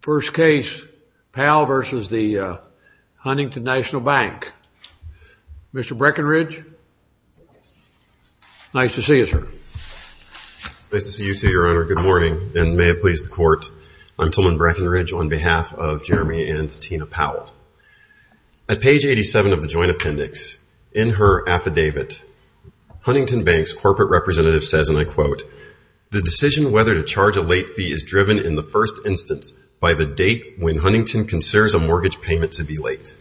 First case Powell versus the Huntington National Bank. Mr. Breckinridge nice to see you sir. Nice to see you too your honor. Good morning and may it please the court I'm Tillman Breckinridge on behalf of Jeremy and Tina Powell. At page 87 of the joint appendix in her affidavit Huntington Bank's corporate representative says and I quote the decision whether to charge a late fee is by the date when Huntington considers a mortgage payment to be late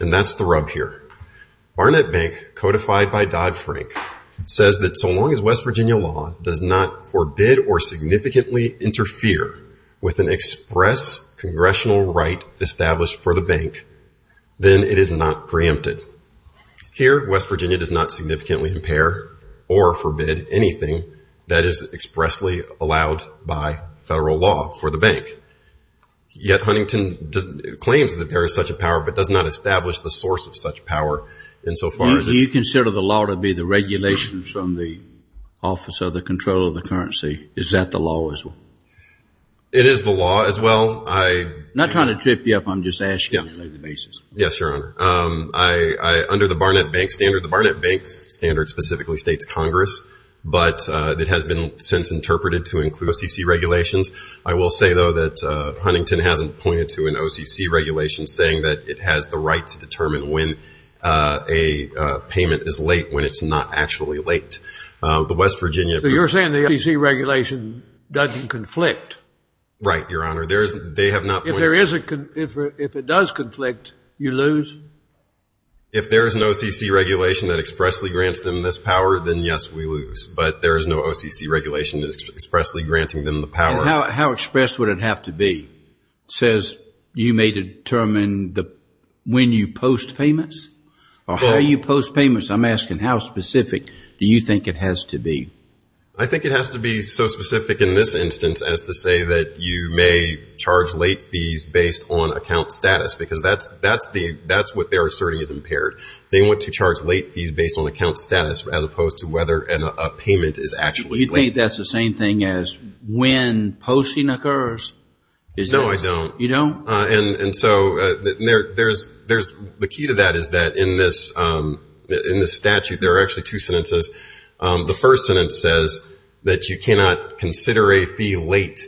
and that's the rub here. Barnett Bank codified by Dodd-Frank says that so long as West Virginia law does not forbid or significantly interfere with an express congressional right established for the bank then it is not preempted. Here West Virginia does not significantly impair or forbid anything that is expressly allowed by federal law for the bank. Yet Huntington claims that there is such a power but does not establish the source of such power insofar as. Do you consider the law to be the regulations from the office of the controller of the currency is that the law as well? It is the law as well. I'm not trying to trip you up I'm just asking. Yes your honor. I under the Barnett Bank standard the Barnett Bank's standard specifically states Congress but it has been since interpreted to include OCC regulations. I will say though that Huntington hasn't pointed to an OCC regulations saying that it has the right to determine when a payment is late when it's not actually late. The West Virginia. You're saying the OCC regulation doesn't conflict. Right your honor. There is they have not. If there is a if it does conflict you lose? If there is an OCC regulation that expressly grants them this power then yes we lose but there is no OCC regulation expressly granting them the power. How express would it have to be? It says you may determine the when you post payments or how you post payments. I'm asking how specific do you think it has to be? I think it has to be so specific in this instance as to say that you may charge late fees based on account status because that's that's the that's what they're asserting is impaired. They want to charge late fees based on account status as opposed to whether a payment is actually late. You think that's the same thing as when posting occurs? No I don't. You don't? And and so there's there's the key to that is that in this in the statute there are actually two sentences. The first sentence says that you cannot consider a fee late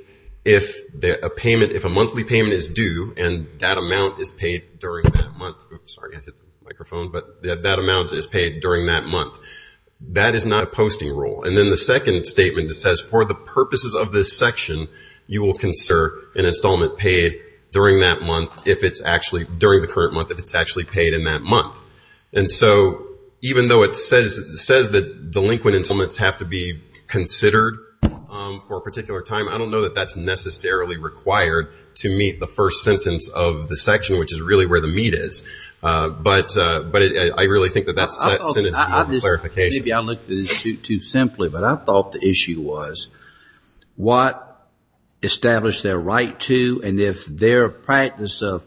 if a payment if a monthly payment is due and that amount is paid during that month. Sorry I hit the microphone but that amount is paid during that month. That is not a posting rule and then the second statement says for the purposes of this section you will consider an installment paid during that month if it's actually during the current month if it's actually paid in that month. And so even though it says says that delinquent installments have to be considered for a particular time I don't know that that's necessarily required to meet the first sentence of the section which is really where the clarification is. Maybe I looked at it too simply but I thought the issue was what established their right to and if their practice of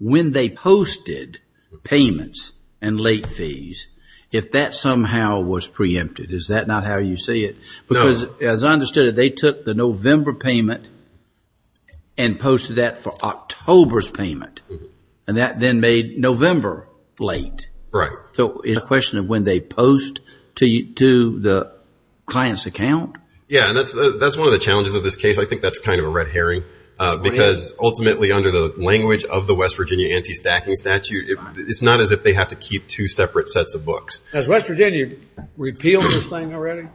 when they posted payments and late fees if that somehow was preempted is that not how you see it? Because as I understood it they took the November payment and posted that for October's payment and that then made November late. Right. So it's a question of when they post to the client's account? Yeah and that's that's one of the challenges of this case I think that's kind of a red herring because ultimately under the language of the West Virginia anti-stacking statute it's not as if they have to keep two separate sets of books. Has West Virginia repealed this thing already?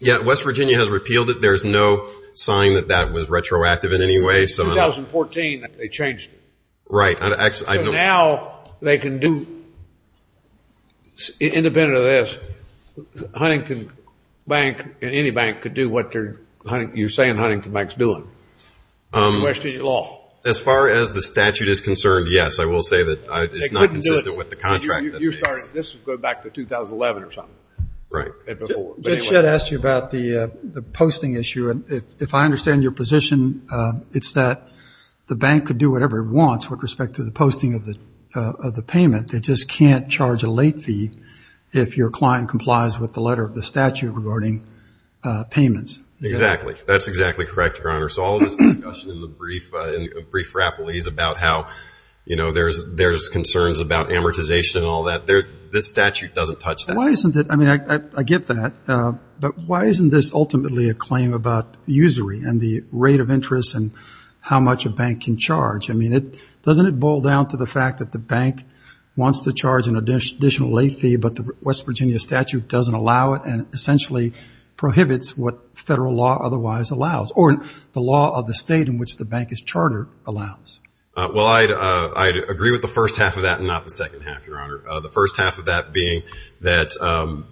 Yeah West Virginia has repealed it there's no sign that that was retroactive in any way. So in 2014 they changed it. Right. Now they can do independent of this, Huntington Bank and any bank could do what you're saying Huntington Bank's doing. As far as the statute is concerned yes I will say that it's not consistent with the contract. This is going back to 2011 or something. Judge Shedd asked you about the the posting issue and if I understand your position it's that the bank could do whatever it wants with respect to the payment they just can't charge a late fee if your client complies with the letter of the statute regarding payments. Exactly that's exactly correct your honor. So all this discussion in the brief in brief rappel is about how you know there's there's concerns about amortization and all that there this statute doesn't touch that. Why isn't it I mean I get that but why isn't this ultimately a claim about usury and the rate of interest and how much a bank can charge. I mean it doesn't it boil down to the fact that the bank wants to charge an additional late fee but the West Virginia statute doesn't allow it and essentially prohibits what federal law otherwise allows or the law of the state in which the bank is chartered allows. Well I'd agree with the first half of that and not the second half your honor. The first half of that being that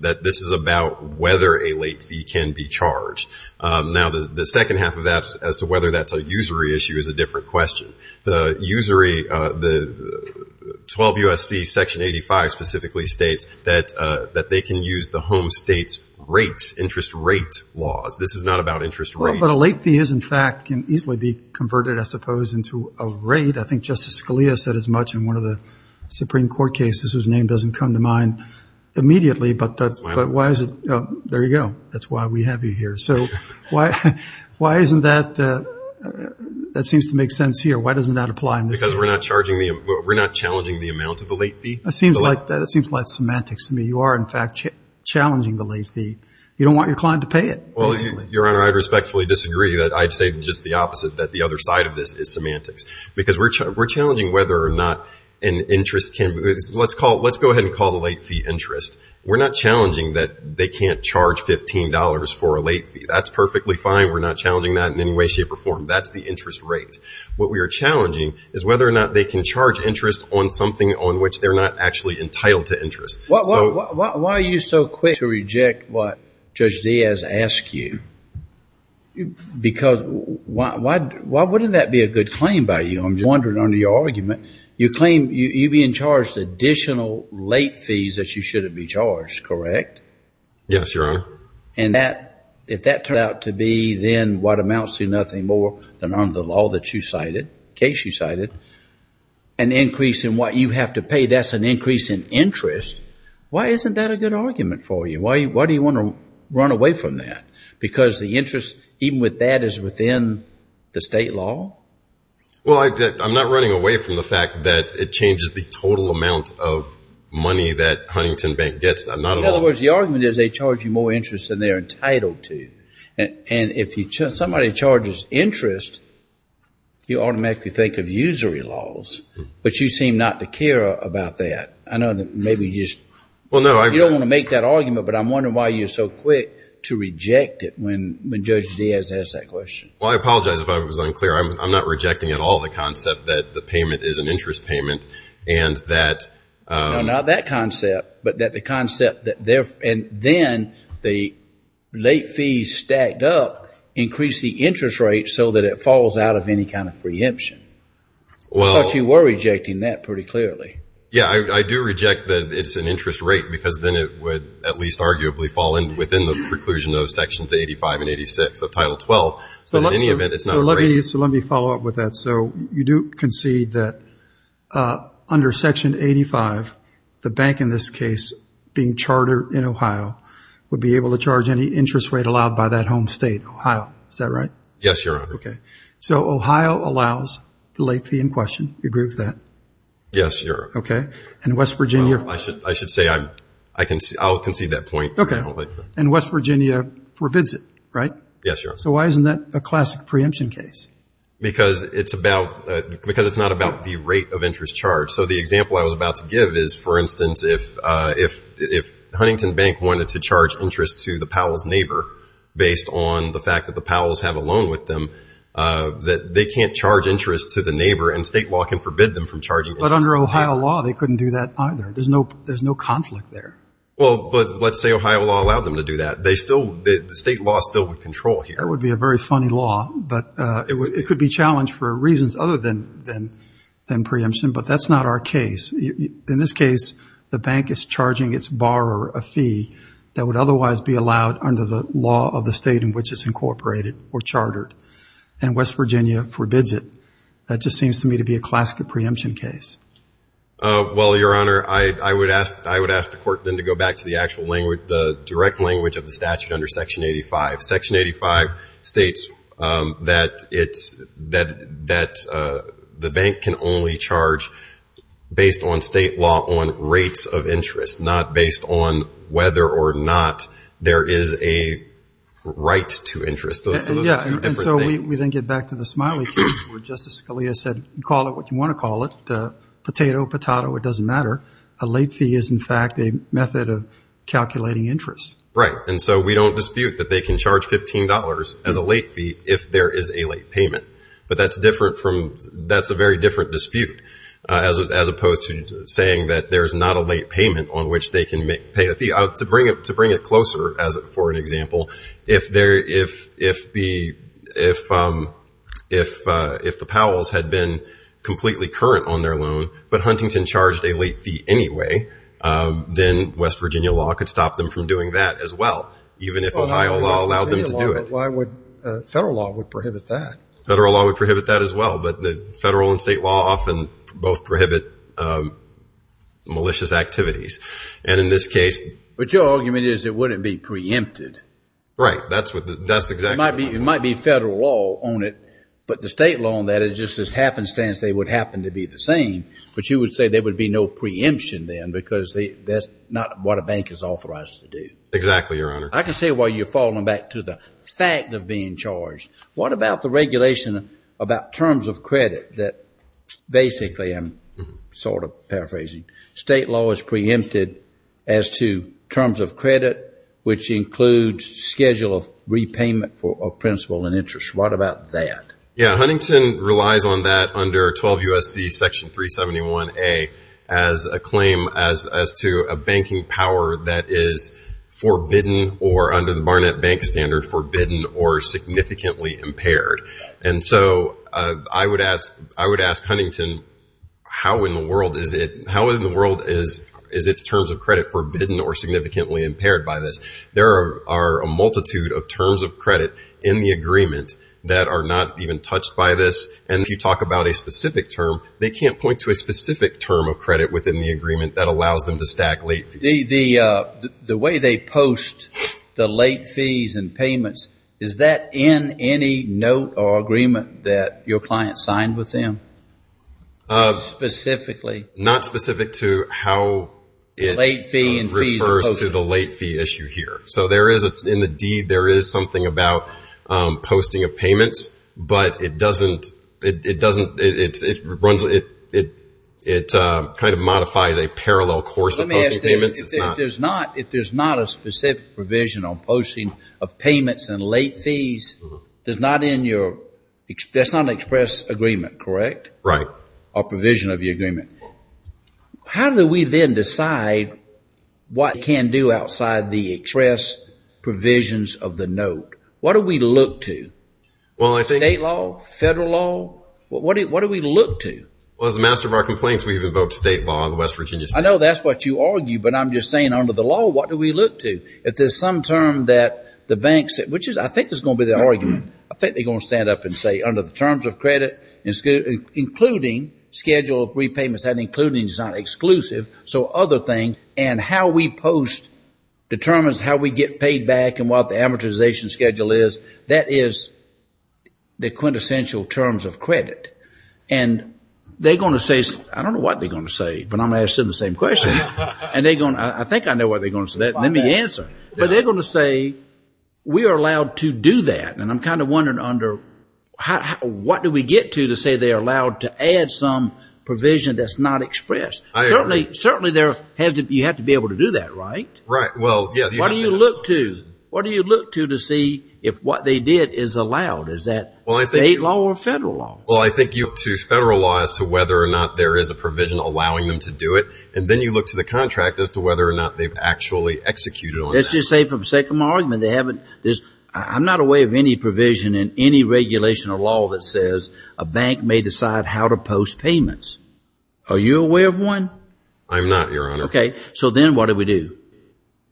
that this is about whether a late fee can be charged. Now the second half of that as to whether that's a usury issue is a different question. The usury the 12 USC section 85 specifically states that that they can use the home states rates interest rate laws. This is not about interest rate. But a late fee is in fact can easily be converted I suppose into a rate. I think Justice Scalia said as much in one of the Supreme Court cases whose name doesn't come to mind immediately but that's but why is it there you go that's why we have you here. So why why isn't that that seems to make sense here why doesn't that apply because we're not charging the we're not challenging the amount of the late fee. It seems like that seems like semantics to me you are in fact challenging the late fee. You don't want your client to pay it. Well your honor I respectfully disagree that I'd say just the opposite that the other side of this is semantics because we're challenging whether or not an interest can let's call let's go ahead and call the late fee interest. We're not challenging that they can't charge $15 for a late fee. That's perfectly fine we're not challenging that in any way shape or form. That's the interest rate. What we are challenging is whether or not they can charge interest on something on which they're not actually entitled to interest. Why are you so quick to reject what Judge Diaz asked you? Because why why why wouldn't that be a good claim by you? I'm just wondering under your argument you claim you being charged additional late fees that you shouldn't be charged correct? Yes your honor. And that if that turned out to be then what amounts to nothing more than under the law that you cited case you cited an increase in what you have to pay that's an increase in interest. Why isn't that a good argument for you? Why do you want to run away from that? Because the interest even with that is within the state law? Well I'm not running away from the fact that it changes the total amount of money that a pension bank gets. In other words the argument is they charge you more interest than they're entitled to and if you somebody charges interest you automatically think of usury laws but you seem not to care about that. I know that maybe you just well no I don't want to make that argument but I'm wondering why you're so quick to reject it when Judge Diaz asked that question. Well I apologize if I was unclear I'm not rejecting at all the concept that the payment is an interest payment and that. Not that concept but that the concept that there and then the late fees stacked up increase the interest rate so that it falls out of any kind of preemption. Well you were rejecting that pretty clearly. Yeah I do reject that it's an interest rate because then it would at least arguably fall in within the preclusion of sections 85 and 86 of title 12. So in any under section 85 the bank in this case being chartered in Ohio would be able to charge any interest rate allowed by that home state Ohio is that right? Yes your honor. Okay so Ohio allows the late fee in question you agree with that? Yes your honor. Okay and West Virginia? I should I should say I'm I can see I'll concede that point. Okay and West Virginia forbids it right? Yes your honor. So why isn't that a classic preemption case? Because it's about because it's not about the rate of interest charge. So the example I was about to give is for instance if if if Huntington Bank wanted to charge interest to the Powell's neighbor based on the fact that the Powell's have a loan with them that they can't charge interest to the neighbor and state law can forbid them from charging. But under Ohio law they couldn't do that either. There's no there's no conflict there. Well but let's say Ohio law allowed them to do that. They still the state law still would control here. That would be a very funny law but it would it could be a challenge for reasons other than then than preemption but that's not our case. In this case the bank is charging its borrower a fee that would otherwise be allowed under the law of the state in which it's incorporated or chartered and West Virginia forbids it. That just seems to me to be a classic of preemption case. Well your honor I I would ask I would ask the court then to go back to the actual language the direct language of the statute under section 85. Section 85 states that it's that that the bank can only charge based on state law on rates of interest not based on whether or not there is a right to interest. So we then get back to the Smiley case where Justice Scalia said call it what you want to call it. Potato, patato, it doesn't matter. A late fee is in fact a method of calculating interest. Right and so we don't dispute that they can charge $15 as a late fee if there is a late payment. But that's different from that's a very different dispute as opposed to saying that there's not a late payment on which they can make pay a fee out to bring it to bring it closer as it for an example if there if if the if if if the Powells had been completely current on their loan but Huntington charged a late fee anyway then West Virginia law could stop them from doing that as well even if Ohio law allowed them to do it. Why would federal law would prohibit that? Federal law would prohibit that as well but the federal and state law often both prohibit malicious activities and in this case. But your argument is it wouldn't be preempted. Right that's what that's exactly. It might be it might be federal law on it but the state law on that it just as happenstance they would happen to be the same but you would say there would be no preemption then because they that's not what a bank is authorized to do. Exactly your honor. I can say why you're falling back to the fact of being charged. What about the regulation about terms of credit that basically I'm sort of paraphrasing. State law is preempted as to terms of credit which includes schedule of repayment for principal and interest. What about that? Yeah Huntington relies on that under 12 USC section 371A as a claim as to a banking power that is forbidden or under the Barnett Bank Standard forbidden or significantly impaired. And so I would ask I would ask Huntington how in the world is it how in the world is is its terms of credit forbidden or significantly impaired by this. There are a multitude of terms of credit in the agreement that are not even touched by this and if you talk about a specific term they can't point to a specific term of credit within the agreement that allows them to stack late fees. The way they post the late fees and payments is that in any note or agreement that your client signed with them specifically? Not specific to how it refers to the late fee issue here. So there is in the deed there is something about posting of payments but it doesn't it doesn't it runs it it it kind of modifies a parallel course of posting payments. Let me ask this if there's not if there's not a specific provision on posting of payments and late fees does not in your that's not an express agreement correct or provision of the agreement. How do we then decide what can do outside the express provisions of the note? What do we look to? Well I think state law, federal law, what do we look to? Well as the master of our complaints we've invoked state law in the West Virginia State. I know that's what you argue but I'm just saying under the law what do we look to? If there's some term that the banks which is I think is going to be the argument I think they're going to stand up and say under the terms of credit including schedule of repayments and including is not exclusive so other things and how we post determines how we get paid back and what the amortization schedule is that is the quintessential terms of credit and they're going to say I don't know what they're going to say but I'm asking the same question and they're going to I think I know what they're going to say let me answer but they're going to say we are allowed to do that and I'm kind of wondering under what do we get to to say they're allowed to add some provision that's not expressed? Certainly you have to be able to do that, right? Right. Well, yes. What do you look to? What do you look to to see if what they did is allowed? Is that state law or federal law? Well I think you look to federal law as to whether or not there is a provision allowing them to do it and then you look to the contract as to whether or not they've actually executed on that. Let's just say for the sake of my argument they haven't I'm not aware of any provision in any regulation or law that says a bank may decide how to post payments. Are you aware of one? I'm not, Your Honor. Okay. So then what do we do?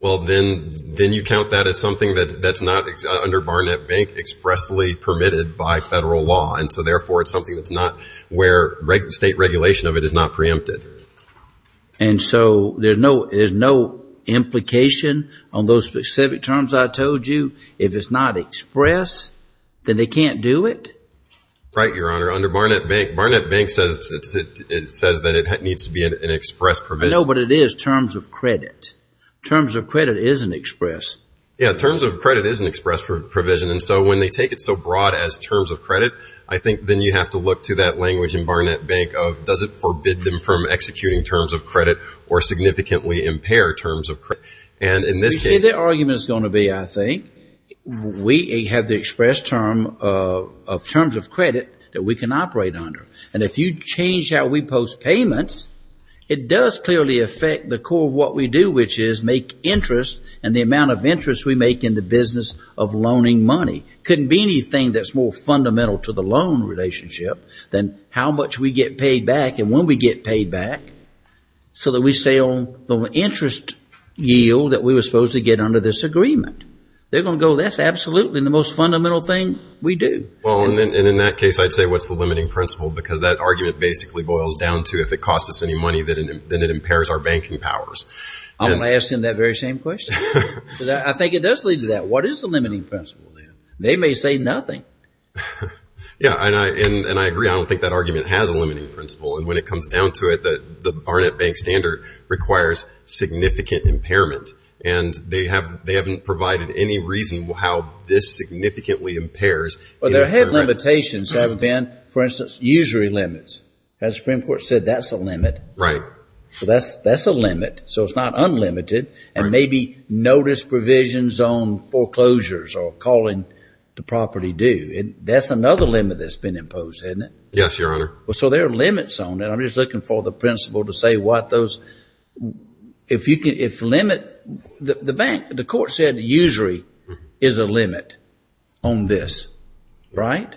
Well, then you count that as something that's not under Barnett Bank expressly permitted by federal law and so therefore it's something that's not where state regulation of it is not preempted. And so there's no implication on those specific terms I told you. If it's not express, then they can't do it? Right, Your Honor. Under Barnett Bank, Barnett Bank says that it needs to be an express provision. I know, but it is terms of credit. Terms of credit isn't express. Yeah, terms of credit is an express provision and so when they take it so broad as terms of credit, I think then you have to look to that language in Barnett Bank of does it forbid them from executing terms of credit or significantly impair terms of credit. And in this case... You see, the argument is going to be, I think, we have the express term of terms of credit that we can operate under. And if you change how we post payments, it does clearly affect the core of what we do, which is make interest and the amount of interest we make in the business of loaning money. It couldn't be anything that's more fundamental to the loan relationship than how much we get paid back and when we get paid back so that we sell the interest yield that we were supposed to get under this agreement. They're going to go, that's absolutely the most fundamental thing we do. Well, and in that case, I'd say what's the limiting principle because that argument basically boils down to if it costs us any money, then it impairs our banking powers. I'm going to ask him that very same question because I think it does lead to that. What is the limiting principle then? They may say nothing. Yeah, and I agree. I don't think that argument has a limiting principle. And when it comes down to it, the Barnett Bank Standard requires significant impairment. And they haven't provided any reason how this significantly impairs. Well, there have limitations that have been, for instance, usury limits. As the Supreme Court said, that's a limit. Right. That's a limit. So it's not unlimited. And maybe notice provisions on foreclosures or calling the property due. That's another limit that's been imposed, isn't it? Yes, Your Honor. Well, so there are limits on it. I'm just looking for the principle to say what those, if you can, if limit, the bank, the court said usury is a limit on this. Right?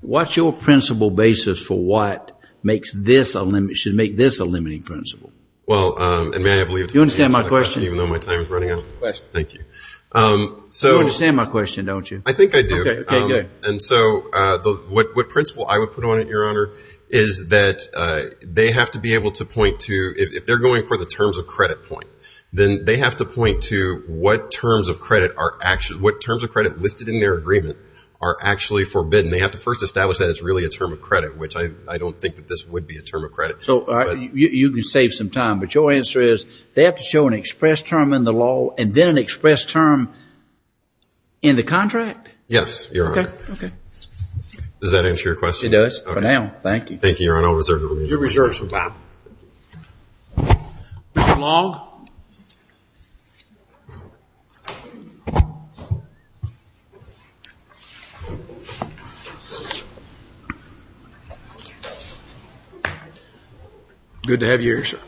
What's your principle basis for what makes this a limit, should make this a limiting principle? Well, and may I have a leave? You understand my question? Even though my time is running out? Question. Thank you. You understand my question, don't you? I think I do. Okay, good. And so what principle I would put on it, Your Honor, is that they have to be able to point to, if they're going for the terms of credit point, then they have to point to what terms of credit are actually, what terms of credit listed in their agreement are actually forbidden. They have to first establish that it's really a term of credit, which I don't think that this would be a term of credit. So you can save some time, but your answer is they have to show an express term in the law and then an express term in the contract? Yes, Your Honor. Okay. Does that answer your question? It does for now. Thank you. Thank you, Your Honor. I'll reserve the remaining time. You're reserved some time. Mr. Long? Good to have you here, sir.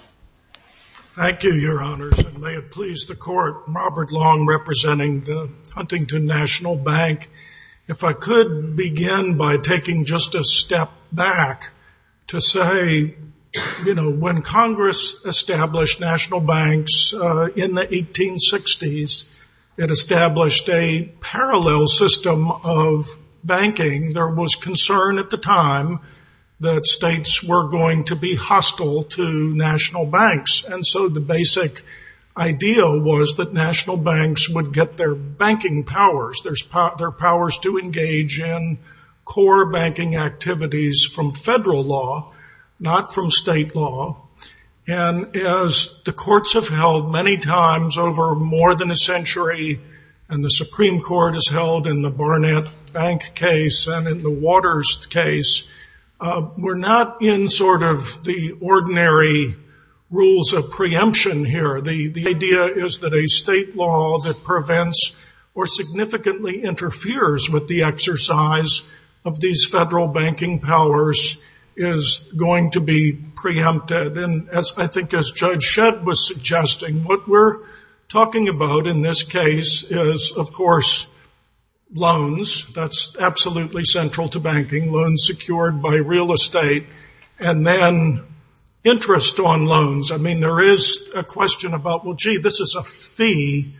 Thank you, Your Honors, and may it please the Court, Robert Long representing the Huntington National Bank. If I could begin by taking just a step back to say, you know, when Congress established national banks in the 1860s, it established a parallel system of banking. There was concern at the time that states were going to be hostile to national banks, and so the basic idea was that national banks would get their banking powers, their powers to engage in core banking activities from federal law, not from state law. And as the courts have held many times over more than a century, and the Supreme Court has held in the Barnett Bank case and in the Waters case, we're not in sort of the ordinary rules of preemption here. The idea is that a state law that prevents or significantly interferes with the exercise of these federal banking powers is going to be preempted. And as I think as Judge Shedd was suggesting, what we're talking about in this case is, of course, loans. That's absolutely central to banking, loans secured by real estate, and then interest on loans. I mean, there is a question about, well, gee, this is a fee.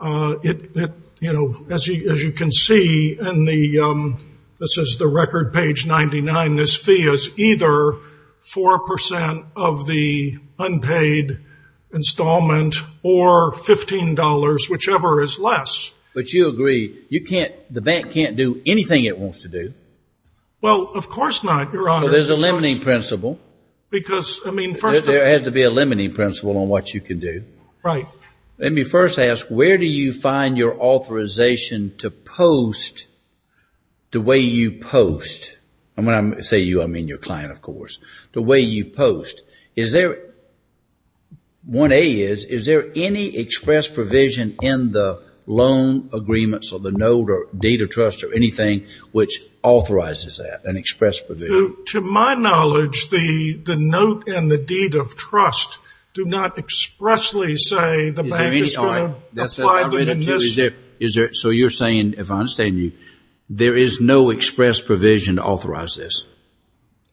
It, you know, as you can see in the, this is the record page 99, this fee is either 4% of the unpaid installment or $15, whichever is less. But you agree, you can't, the bank can't do anything it wants to do. Well, of course not, Your Honor. So there's a limiting principle. Because, I mean, first of all. There has to be a limiting principle on what you can do. Right. Let me first ask, where do you find your authorization to post the way you post? And when I say you, I mean your client, of course. The way you post. Is there, 1A is, is there any express provision in the loan agreements or the note or deed of trust or anything which authorizes that, an express provision? To my knowledge, the note and the deed of trust do not expressly say the bank is going to apply the remission. So is there, so you're saying, if I understand you, there is no express provision to authorize this?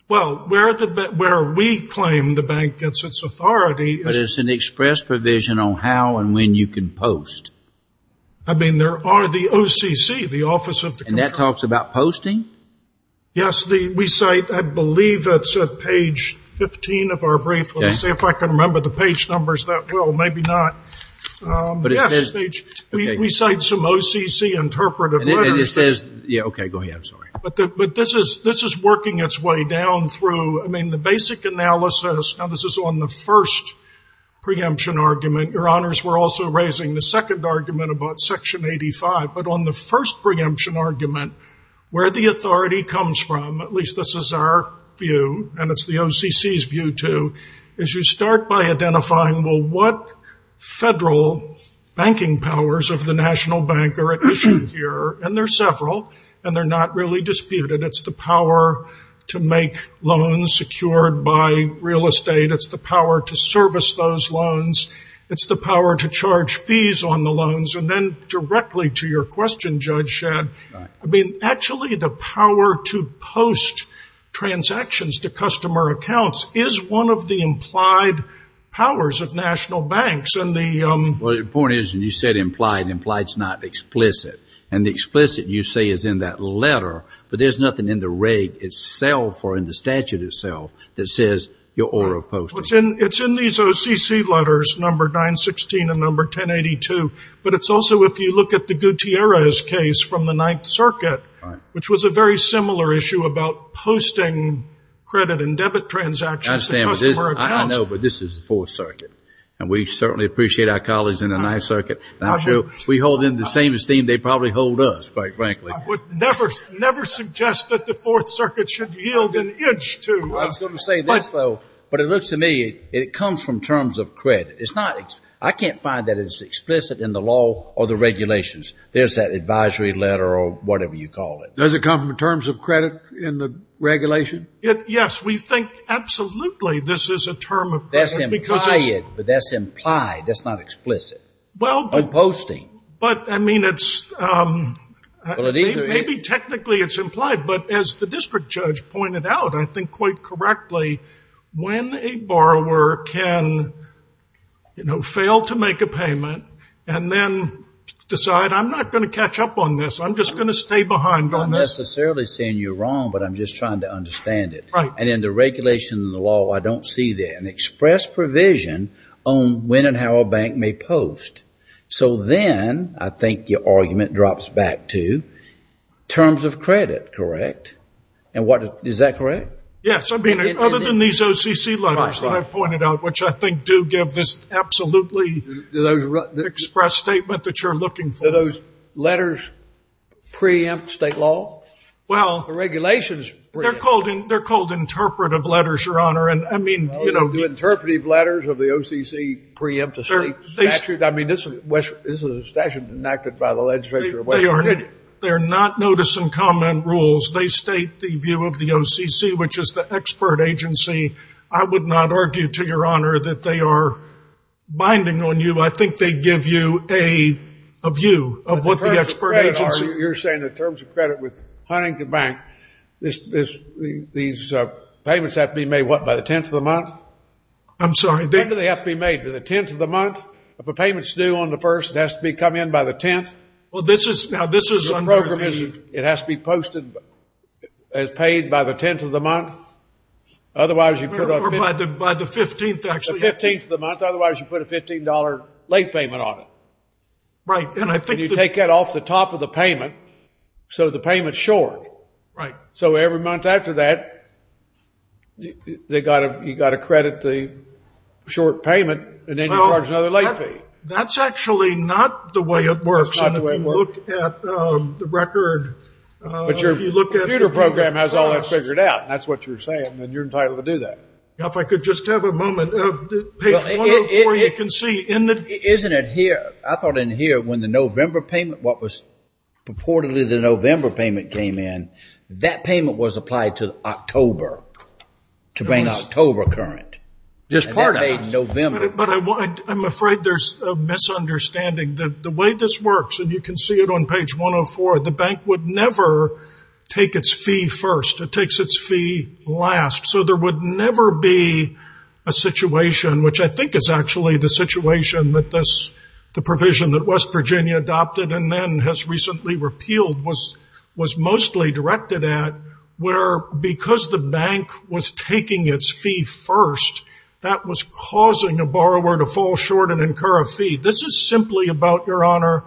Well, where we claim the bank gets its authority is. But it's an express provision on how and when you can post. I mean, there are the OCC, the Office of the Comptroller. And that talks about posting? Yes, we cite, I believe it's at page 15 of our brief. Let me see if I can remember the page numbers that well, maybe not. Yes, we cite some OCC interpretive letters. And it says, yeah, okay, go ahead, I'm sorry. But this is working its way down through, I mean, the basic analysis, now this is on the first preemption argument. Your honors, we're also raising the second argument about section 85. But on the first preemption argument, where the authority comes from, at least this is our view, and it's the OCC's view too, is you start by identifying, well, what federal banking powers of the national bank are at issue here? And there are several, and they're not really disputed. It's the power to make loans secured by real estate. It's the power to service those loans. It's the power to charge fees on the loans. And then directly to your question, Judge Shadd, I mean, actually, the power to post transactions to customer accounts is one of the implied powers of national banks. And the point is, you said implied. Implied's not explicit. And the explicit, you say, is in that letter. But there's nothing in the rate itself or in the statute itself that says your order of posting. It's in these OCC letters, number 916 and number 1082. But it's also, if you look at the Gutierrez case from the Ninth Circuit, which was a very similar issue about posting credit and debit transactions to customer accounts. I know, but this is the Fourth Circuit. And we certainly appreciate our colleagues in the Ninth Circuit. And I'm sure if we hold them to the same esteem, they'd probably hold us, quite frankly. I would never suggest that the Fourth Circuit should yield an inch to... I was going to say this, though. But it looks to me, it comes from terms of credit. It's not... I can't find that it's explicit in the law or the regulations. There's that advisory letter or whatever you call it. Does it come from terms of credit in the regulation? Yes, we think absolutely this is a term of credit because it's... That's implied, but that's implied. That's not explicit. Well, but... Of posting. But, I mean, it's... Well, it either is... Maybe technically it's implied. But as the district judge pointed out, I think quite correctly, when a borrower can, you know, fail to make a payment and then decide, I'm not going to catch up on this. I'm just going to stay behind on this. I'm not necessarily saying you're wrong, but I'm just trying to understand it. Right. And in the regulation and the law, I don't see there an express provision on when and how a bank may post. So then, I think your argument drops back to terms of credit, correct? And what... Is that correct? Yes. I mean, other than these OCC letters that I pointed out, which I think do give this absolutely... Express statement that you're looking for. Do those letters preempt state law? Well... The regulations preempt. They're called interpretive letters, Your Honor. And, I mean... You know, the interpretive letters of the OCC preempt a state statute. I mean, this is a statute enacted by the legislature of West Virginia. They're not notice and comment rules. They state the view of the OCC, which is the expert agency. I would not argue, to Your Honor, that they are binding on you. I think they give you a view of what the expert agency... You're saying that in terms of credit with Huntington Bank, these payments have to be made, what, by the 10th of the month? I'm sorry. When do they have to be made? By the 10th of the month? If a payment's due on the 1st, it has to be come in by the 10th? Well, this is... Now, this is under the... It has to be posted as paid by the 10th of the month? Otherwise, you put on... Or by the 15th, actually? The 15th of the month. Otherwise, you put a $15 late payment on it. Right. And I think that... And you take that off the top of the payment, so the payment's short. Right. So, every month after that, you got to credit the short payment, and then you charge another late fee. That's actually not the way it works. That's not the way it works. And if you look at the record... But your computer program has all that figured out. That's what you're saying, and you're entitled to do that. Now, if I could just have a moment. Page 104, you can see in the... Isn't it here? I thought in here, when the November payment, what was purportedly the November payment came in, that payment was applied to October, to bring October current. Just part of it. November. But I'm afraid there's a misunderstanding. The way this works, and you can see it on page 104, the bank would never take its fee first. It takes its fee last. So, there would never be a situation, which I think is actually the situation that this, the provision that West Virginia adopted, and then has recently repealed, was mostly directed at, where because the bank was taking its fee first, that was causing a borrower to fall short and incur a fee. This is simply about, Your Honor,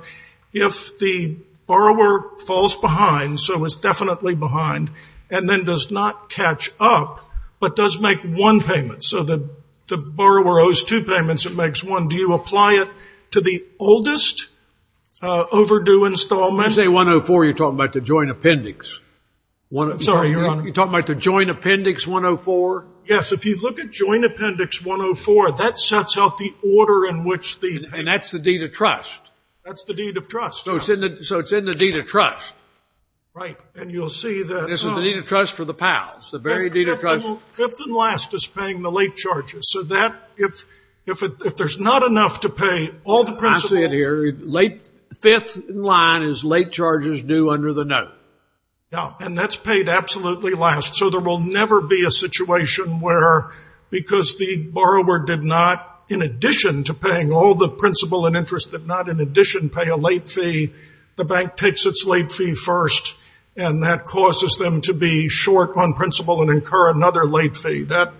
if the borrower falls behind, so is definitely behind, and then does not catch up, but does make one payment. So, the borrower owes two payments, it makes one. Do you apply it to the oldest overdue installment? You say 104, you're talking about the joint appendix. Sorry, Your Honor. You're talking about the joint appendix 104? Yes, if you look at joint appendix 104, that sets out the order in which the... And that's the deed of trust. That's the deed of trust. So, it's in the deed of trust. Right, and you'll see that... It's in the deed of trust for the pals. The very deed of trust... Fifth and last is paying the late charges. So, that, if there's not enough to pay all the principal... I see it here. Fifth in line is late charges due under the note. Yeah, and that's paid absolutely last. So, there will never be a situation where, because the borrower did not, in addition to paying all the principal and interest, did not, in addition, pay a late fee, the bank takes its late fee first, and that causes them to be short on principal and incur another late fee. That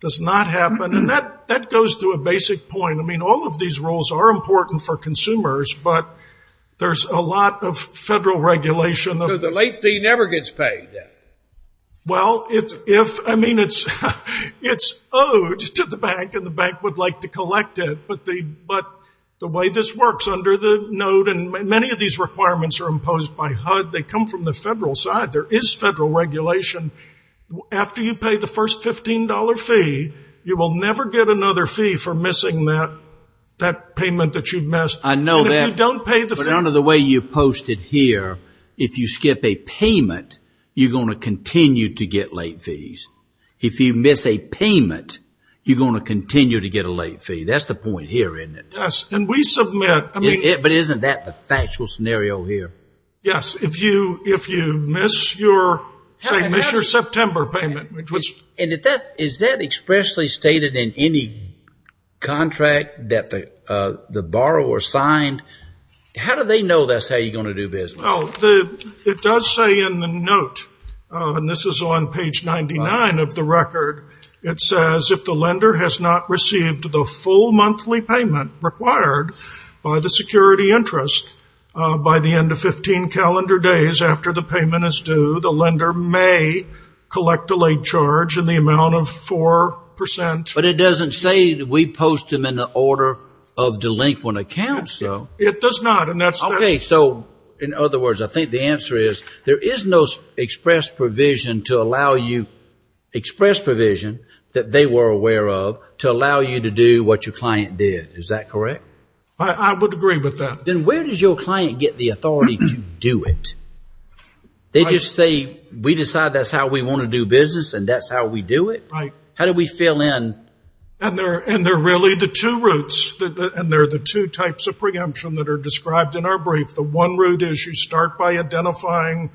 does not happen, and that goes to a basic point. I mean, all of these rules are important for consumers, but there's a lot of federal regulation... Because the late fee never gets paid. Well, if, I mean, it's owed to the bank, and the bank would like to collect it, but the way this works, under the note, and many of these requirements are imposed by HUD. They come from the federal side. There is federal regulation. After you pay the first $15 fee, you will never get another fee for missing that, that payment that you've missed. I know that. And if you don't pay the fee... But under the way you posted here, if you skip a payment, you're going to continue to get late fees. If you miss a payment, you're going to continue to get a late fee. That's the point here, isn't it? Yes, and we submit... But isn't that the factual scenario here? Yes. If you miss your, say, miss your September payment, which was... And is that expressly stated in any contract that the borrower signed? How do they know that's how you're going to do business? Well, it does say in the note, and this is on page 99 of the record, it says, if the lender has not received the full monthly payment required by the security interest by the end of 15 calendar days after the payment is due, the lender may collect a late charge in the amount of 4%. But it doesn't say that we post them in the order of delinquent accounts, though. It does not, and that's... Okay, so, in other words, I think the answer is there is no express provision to allow you... Express provision that they were aware of to allow you to do what your client did. Is that correct? I would agree with that. Then where does your client get the authority to do it? They just say, we decide that's how we want to do business, and that's how we do it? Right. How do we fill in... And they're really the two routes, and they're the two types of preemption that are described in our brief. The one route is you start by identifying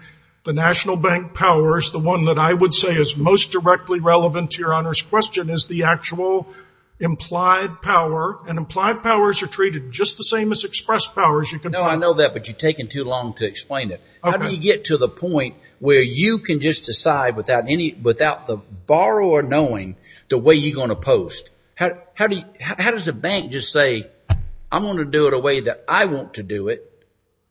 the national bank powers. The one that I would say is most directly relevant to your honor's question is the actual implied power, and implied powers are treated just the same as express powers you can find. No, I know that, but you're taking too long to explain it. How do you get to the point where you can just decide without the borrower knowing the way you're gonna post? How does a bank just say, I'm gonna do it a way that I want to do it,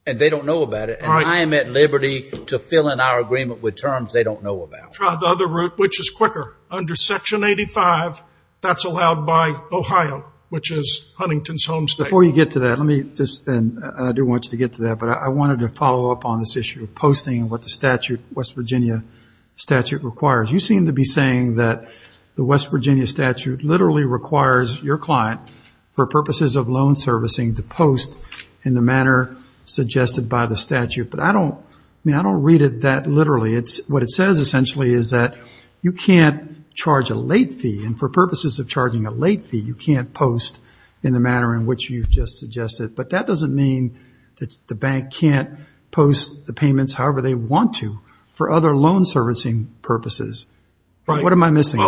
and they don't know about it, and I am at liberty to fill in our agreement with terms they don't know about? Try the other route, which is quicker. Under Section 85, that's allowed by Ohio, which is Huntington's home state. Before you get to that, let me just, and I do want you to get to that, but I wanted to follow up on this issue of posting and what the West Virginia statute requires. You seem to be saying that the West Virginia statute literally requires your client, for purposes of loan servicing, to post in the manner suggested by the statute, but I don't read it that literally. What it says, essentially, is that you can't charge a late fee, and for purposes of charging a late fee, you can't post in the manner in which you've just suggested, but that doesn't mean that the bank can't post the payments however they want to, for other loan servicing purposes. What am I missing?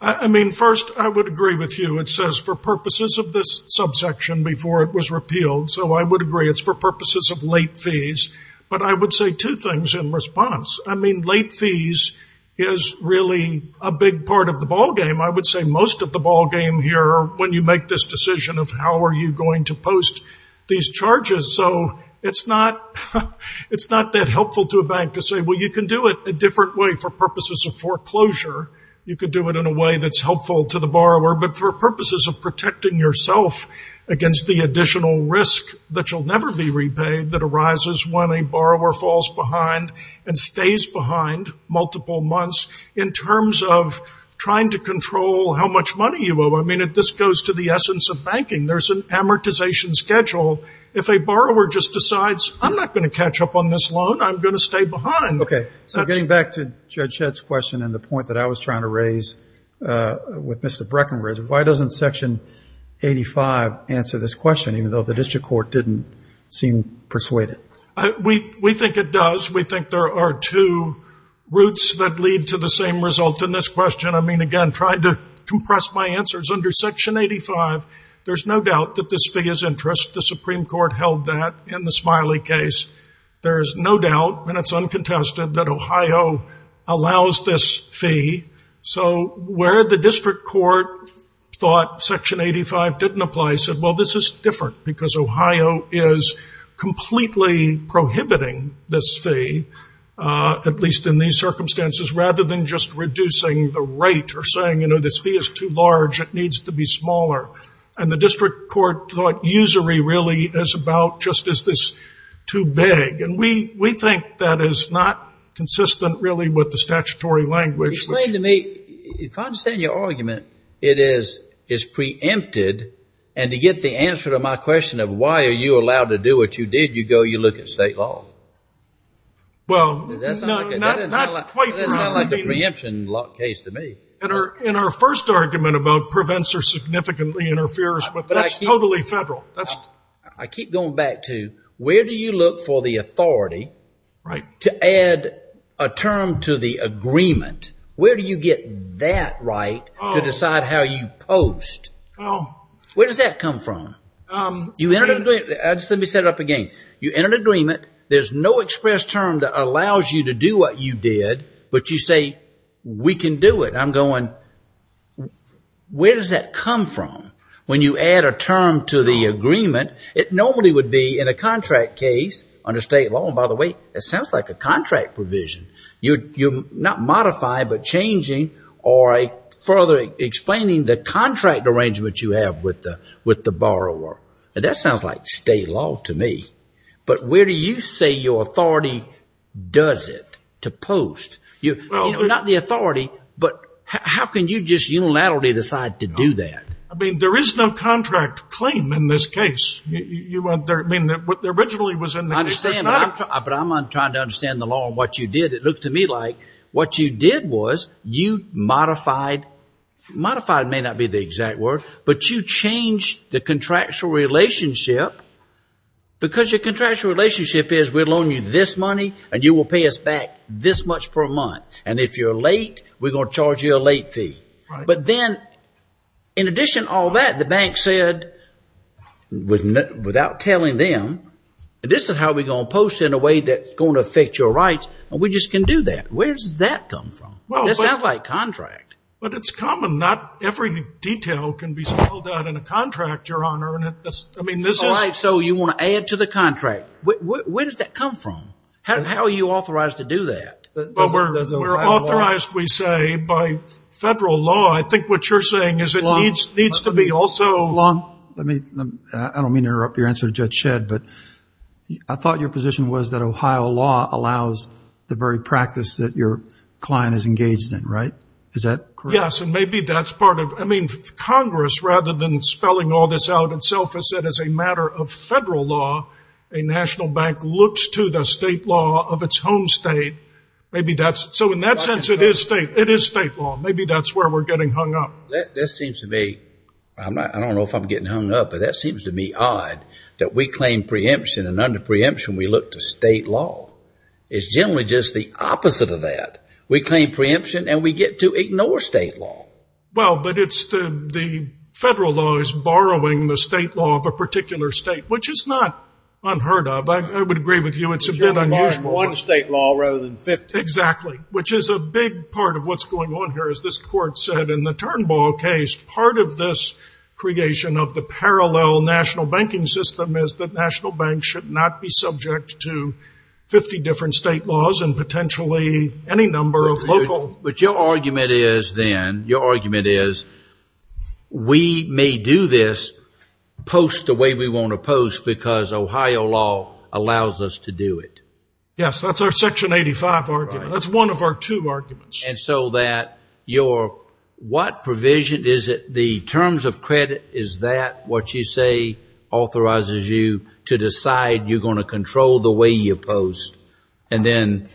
I mean, first, I would agree with you. It says for purposes of this subsection before it was repealed, so I would agree. It's for purposes of late fees, but I would say two things in response. I mean, late fees is really a big part of the ballgame. I would say most of the ballgame here when you make this decision of how are you going to post these charges, so it's not that helpful to a bank to say, well, you can do it a different way for purposes of foreclosure. You can do it in a way that's helpful to the borrower, but for purposes of protecting yourself against the additional risk that you'll never be repaid that arises when a borrower falls behind and stays behind multiple months in terms of trying to control how much money you owe. I mean, this goes to the essence of banking. There's an amortization schedule. If a borrower just decides, I'm not going to catch up on this loan, I'm going to stay behind. OK, so getting back to Judge Shedd's question and the point that I was trying to raise with Mr. Breckenridge, why doesn't Section 85 answer this question, even though the district court didn't seem persuaded? We think it does. We think there are two roots that lead to the same result in this question. I mean, again, trying to compress my answers, under Section 85, there's no doubt that this fee is interest. The Supreme Court held that in the Smiley case. There's no doubt, and it's uncontested, that Ohio allows this fee. So where the district court thought Section 85 didn't apply, said, well, this is different because Ohio is completely prohibiting this fee, at least in these circumstances, rather than just reducing the rate or saying, you know, this fee is too large, it needs to be smaller. And the district court thought usury really is about just is this too big. And we think that is not consistent, really, with the statutory language. Explain to me, if I understand your argument, it is preempted. And to get the answer to my question of why are you allowed to do what you did, you go, you look at state law. Well, not quite. That doesn't sound like a preemption case to me. In our first argument about prevents or significantly interferes, but that's totally federal. I keep going back to, where do you look for the authority to add a term to the agreement? Where do you get that right to decide how you post? Where does that come from? You enter an agreement, let me set it up again. You enter an agreement, there's no express term that allows you to do what you did, but you say, we can do it. I'm going, where does that come from? When you add a term to the agreement, it normally would be in a contract case under state law. And by the way, it sounds like a contract provision. You're not modifying, but changing or further explaining the contract arrangement you have with the borrower. That sounds like state law to me. But where do you say your authority does it to post? You're not the authority, but how can you just unilaterally decide to do that? I mean, there is no contract claim in this case. You went there, I mean, what originally was in the case was not a- But I'm trying to understand the law and what you did. It looks to me like what you did was you modified, modified may not be the exact word, but you changed the contractual relationship because your contractual relationship is we'll loan you this money and you will pay us back this much per month. And if you're late, we're going to charge you a late fee. But then in addition to all that, the bank said without telling them, this is how we're going to post in a way that's going to affect your rights. And we just can do that. Where does that come from? Well, it sounds like contract. But it's common. Not every detail can be spelled out in a contract, Your Honor. I mean, this is- All right, so you want to add to the contract. Where does that come from? How are you authorized to do that? But we're authorized, we say, by federal law. I think what you're saying is it needs to be also- I don't mean to interrupt your answer to Judge Shedd, but I thought your position was that Ohio law allows the very practice that your client is engaged in, right? Is that correct? Yes, and maybe that's part of- I mean, Congress, rather than spelling all this out itself, has said as a matter of federal law, a national bank looks to the state law of its home state. Maybe that's- So in that sense, it is state. It is state law. Maybe that's where we're getting hung up. That seems to me- I don't know if I'm getting hung up, but that seems to me odd that we claim preemption, and under preemption, we look to state law. It's generally just the opposite of that. We claim preemption, and we get to ignore state law. Well, but it's the- The federal law is borrowing the state law of a particular state, which is not unheard of. I would agree with you. It's a bit unusual. One state law rather than 50. Exactly, which is a big part of what's going on here. As this court said in the Turnbull case, part of this creation of the parallel national banking system is that national banks should not be subject to 50 different state laws and potentially any number of local- But your argument is then, your argument is we may do this post the way we want to post, because Ohio law allows us to do it. Yes, that's our Section 85 argument. That's one of our two arguments. And so that your, what provision is it, the terms of credit, is that what you say authorizes you to decide you're going to control the way you post? And then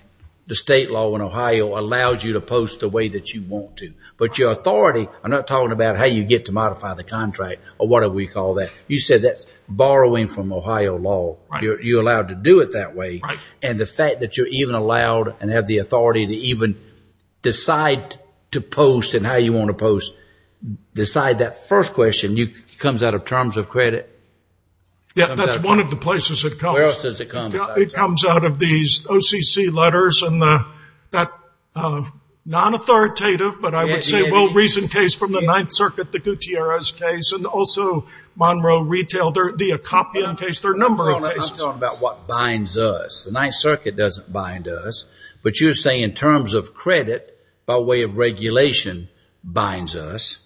the state law in Ohio allows you to post the way that you want to. But your authority, I'm not talking about how you get to modify the contract or whatever we call that. You said that's borrowing from Ohio law. You're allowed to do it that way. And the fact that you're even allowed and have the authority to even decide to post and how you want to post, decide that first question, comes out of terms of credit? Yeah, that's one of the places it comes. Where else does it come? It comes out of these OCC letters and that non-authoritative, but I would say well-reasoned case from the Ninth Circuit, the Gutierrez case, and also Monroe Retail, the Akopian case, there are a number of cases. I'm talking about what binds us. The Ninth Circuit doesn't bind us. But you're saying in terms of credit, by way of regulation, binds us.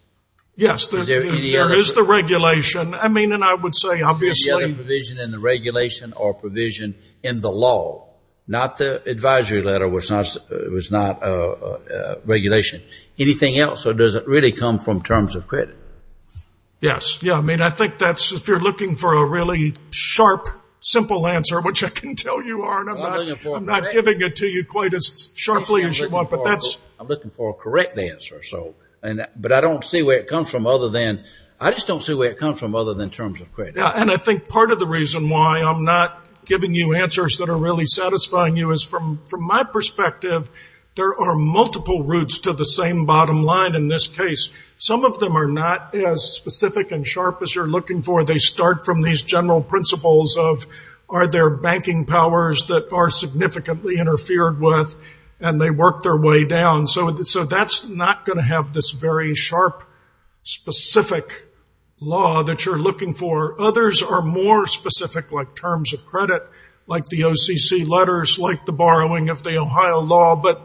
Yes, there is the regulation. I mean, and I would say obviously. Is there any provision in the regulation or provision in the law? Not the advisory letter was not regulation. Anything else, or does it really come from terms of credit? Yes, yeah, I mean, I think that's if you're looking for a really sharp, simple answer, which I can tell you are, and I'm not giving it to you quite as sharply as you want, but that's... I'm looking for a correct answer, but I don't see where it comes from other than, I just don't see where it comes from other than terms of credit. Yeah, and I think part of the reason why I'm not giving you answers that are really satisfying you is from my perspective, there are multiple routes to the same bottom line in this case. Some of them are not as specific and sharp as you're looking for. They start from these general principles of are there banking powers that are significantly interfered with and they work their way down. So that's not gonna have this very sharp, specific law that you're looking for. Others are more specific like terms of credit, like the OCC letters, like the borrowing of the Ohio law, but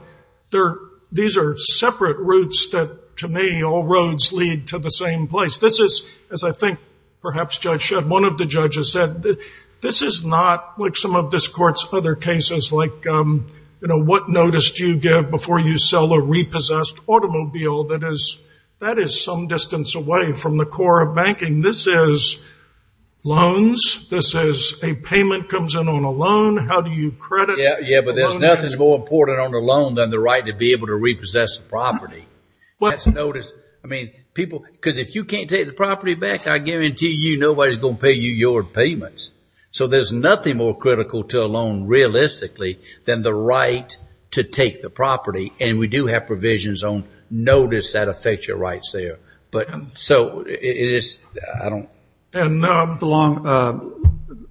these are separate routes that to me, all roads lead to the same place. This is, as I think perhaps Judge Shedd, one of the judges said, this is not like some of this court's other cases like what notice do you give before you sell a repossessed automobile that is some distance away from the core of banking. This is loans, this is a payment comes in on a loan. How do you credit? Yeah, but there's nothing more important on a loan than the right to be able to repossess the property. That's notice, I mean, people, because if you can't take the property back, I guarantee you nobody's gonna pay you your payments. So there's nothing more critical to a loan realistically than the right to take the property and we do have provisions on notice that affect your rights there. But so it is, I don't. And now I'm the long,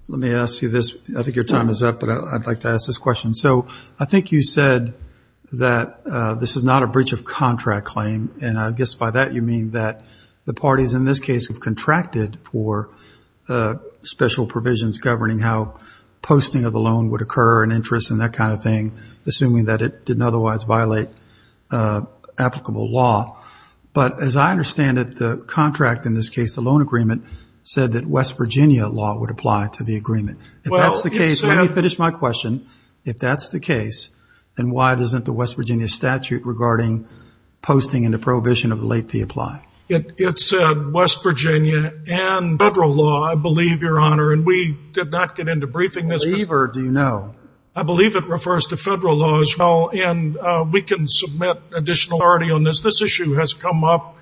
let me ask you this. I think your time is up, but I'd like to ask this question. So I think you said that this is not a breach of contract claim. And I guess by that you mean that the parties in this case have contracted for special provisions governing how posting of the loan would occur and interest and that kind of thing, assuming that it didn't otherwise violate applicable law. But as I understand it, the contract in this case, the loan agreement said that West Virginia law would apply to the agreement. If that's the case, let me finish my question. If that's the case, then why doesn't the West Virginia statute regarding posting and the prohibition of late fee apply? It said West Virginia and federal law, I believe, your honor. And we did not get into briefing this. Believe or do you know? I believe it refers to federal laws. And we can submit additional authority on this. This issue has come up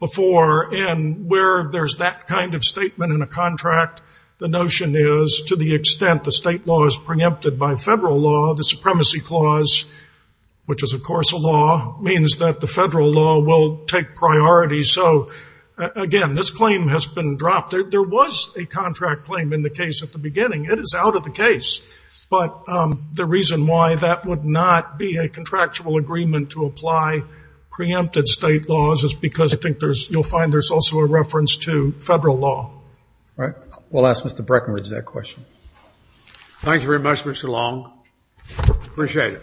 before and where there's that kind of statement in a contract, the notion is to the extent the state law is preempted by federal law, the supremacy clause, which is of course a law, means that the federal law will take priority. So again, this claim has been dropped. There was a contract claim in the case at the beginning. It is out of the case. But the reason why that would not be a contractual agreement to apply preempted state laws is because I think you'll find there's also a reference to federal law. All right, we'll ask Mr. Breckenridge that question. Thank you very much, Mr. Long. Appreciate it.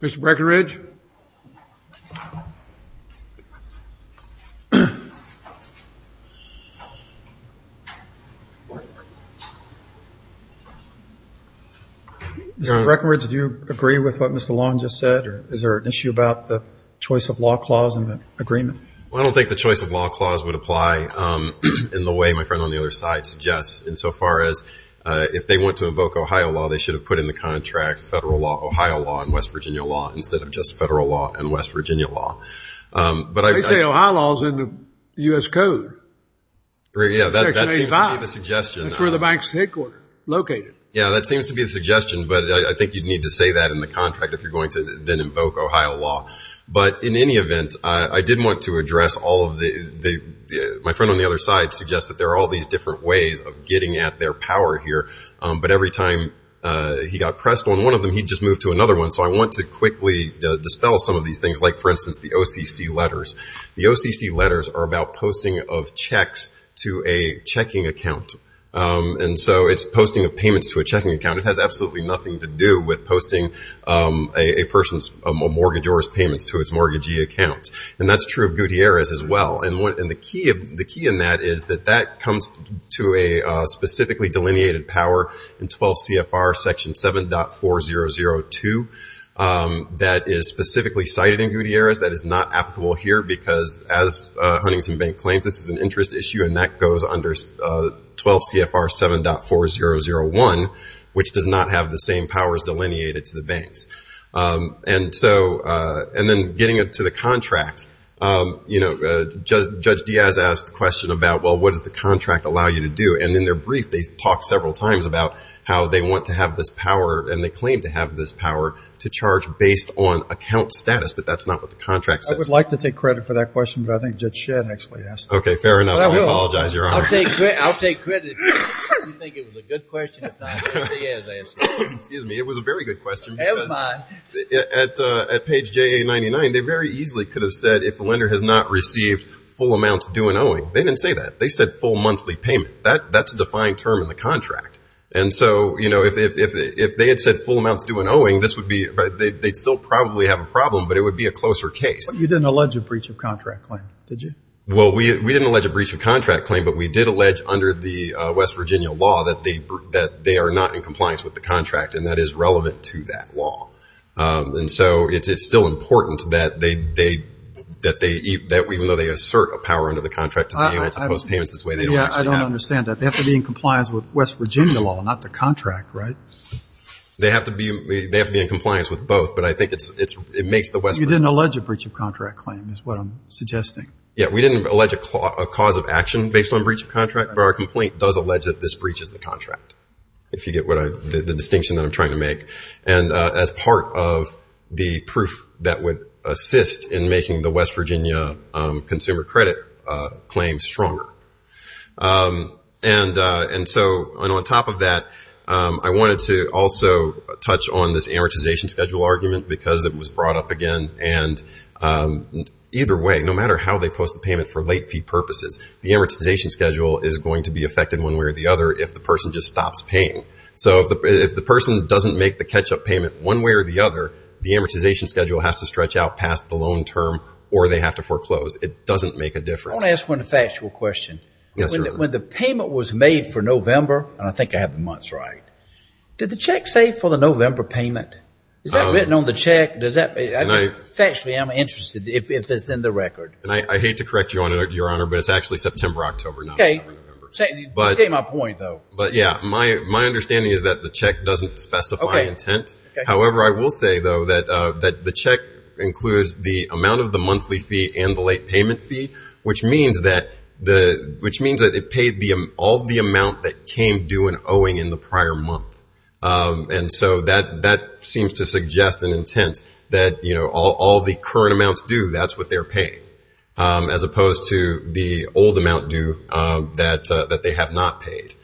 Mr. Breckenridge? Mr. Breckenridge, do you agree with what Mr. Long just said? Or is there an issue about the choice of law clause in the agreement? Well, I don't think the choice of law clause would apply in the way my friend on the other side suggests insofar as if they want to invoke Ohio law, they should have put in the contract a federal law, Ohio law, and West Virginia law instead of just federal law and West Virginia law. But I- They say Ohio law's in the U.S. Code. Right, yeah, that seems to be the suggestion. That's where the bank's headquarter, located. Yeah, that seems to be the suggestion, but I think you'd need to say that in the contract if you're going to then invoke Ohio law. But in any event, I did want to address all of the, my friend on the other side suggests that there are all these different ways of getting at their power here. But every time he got pressed on one of them, he'd just move to another one. So I want to quickly dispel some of these things, like for instance, the OCC letters. The OCC letters are about posting of checks to a checking account. And so it's posting of payments to a checking account. It has absolutely nothing to do with posting a person's mortgage or his payments to his mortgagee account. And that's true of Gutierrez as well. And the key in that is that that comes to a specifically delineated power in 12 CFR section 7.4002 that is specifically cited in Gutierrez that is not applicable here, because as Huntington Bank claims, this is an interest issue, and that goes under 12 CFR 7.4001, which does not have the same powers delineated to the banks. And so, and then getting into the contract, Judge Diaz asked the question about, well, what does the contract allow you to do? And in their brief, they talk several times about how they want to have this power, and they claim to have this power to charge based on account status, but that's not what the contract says. I would like to take credit for that question, but I think Judge Shedd actually asked it. Okay, fair enough. I apologize, Your Honor. I'll take credit. You think it was a good question, if not, Judge Diaz asked it. Excuse me, it was a very good question, because at page JA99, they very easily could have said if the lender has not received full amounts due and owing. They didn't say that. They said full monthly payment. That's a defined term in the contract. And so, you know, if they had said full amounts due and owing, this would be, they'd still probably have a problem, but it would be a closer case. You didn't allege a breach of contract claim, did you? Well, we didn't allege a breach of contract claim, but we did allege under the West Virginia law that they are not in compliance with the contract, and that is relevant to that law. And so, it's still important that they, even though they assert a power under the contract to be able to post payments this way, they don't actually have to. Yeah, I don't understand that. They have to be in compliance with West Virginia law, not the contract, right? They have to be in compliance with both, but I think it makes the West Virginia law. You didn't allege a breach of contract claim, is what I'm suggesting. Yeah, we didn't allege a cause of action based on breach of contract, but our complaint does allege that this breaches the contract, if you get the distinction that I'm trying to make. And as part of the proof that would assist in making the West Virginia consumer credit claim stronger. And so, on top of that, I wanted to also touch on this amortization schedule argument because it was brought up again, and either way, no matter how they post the payment for late fee purposes, the amortization schedule is going to be affected one way or the other if the person just stops paying. So, if the person doesn't make the catch-up payment one way or the other, the amortization schedule has to stretch out past the loan term, or they have to foreclose. It doesn't make a difference. I want to ask one factual question. When the payment was made for November, and I think I have the months right, did the check say for the November payment? Is that written on the check? Does that, factually, I'm interested, if it's in the record. And I hate to correct you, Your Honor, but it's actually September, October, not November, November. Okay, you get my point, though. But yeah, my understanding is that the check doesn't specify intent. However, I will say, though, that the check includes the amount of the monthly fee and the late payment fee, which means that it paid all the amount that came due in owing in the prior month. And so, that seems to suggest an intent that all the current amounts due, that's what they're paying, as opposed to the old amount due that they have not paid.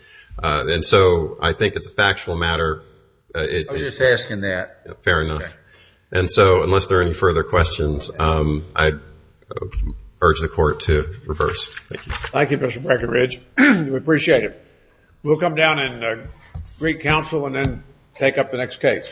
And so, I think it's a factual matter. I was just asking that. Fair enough. And so, unless there are any further questions, I urge the Court to reverse. Thank you. Thank you, Mr. Breckenridge. We appreciate it. We'll come down and greet counsel and then take up the next case.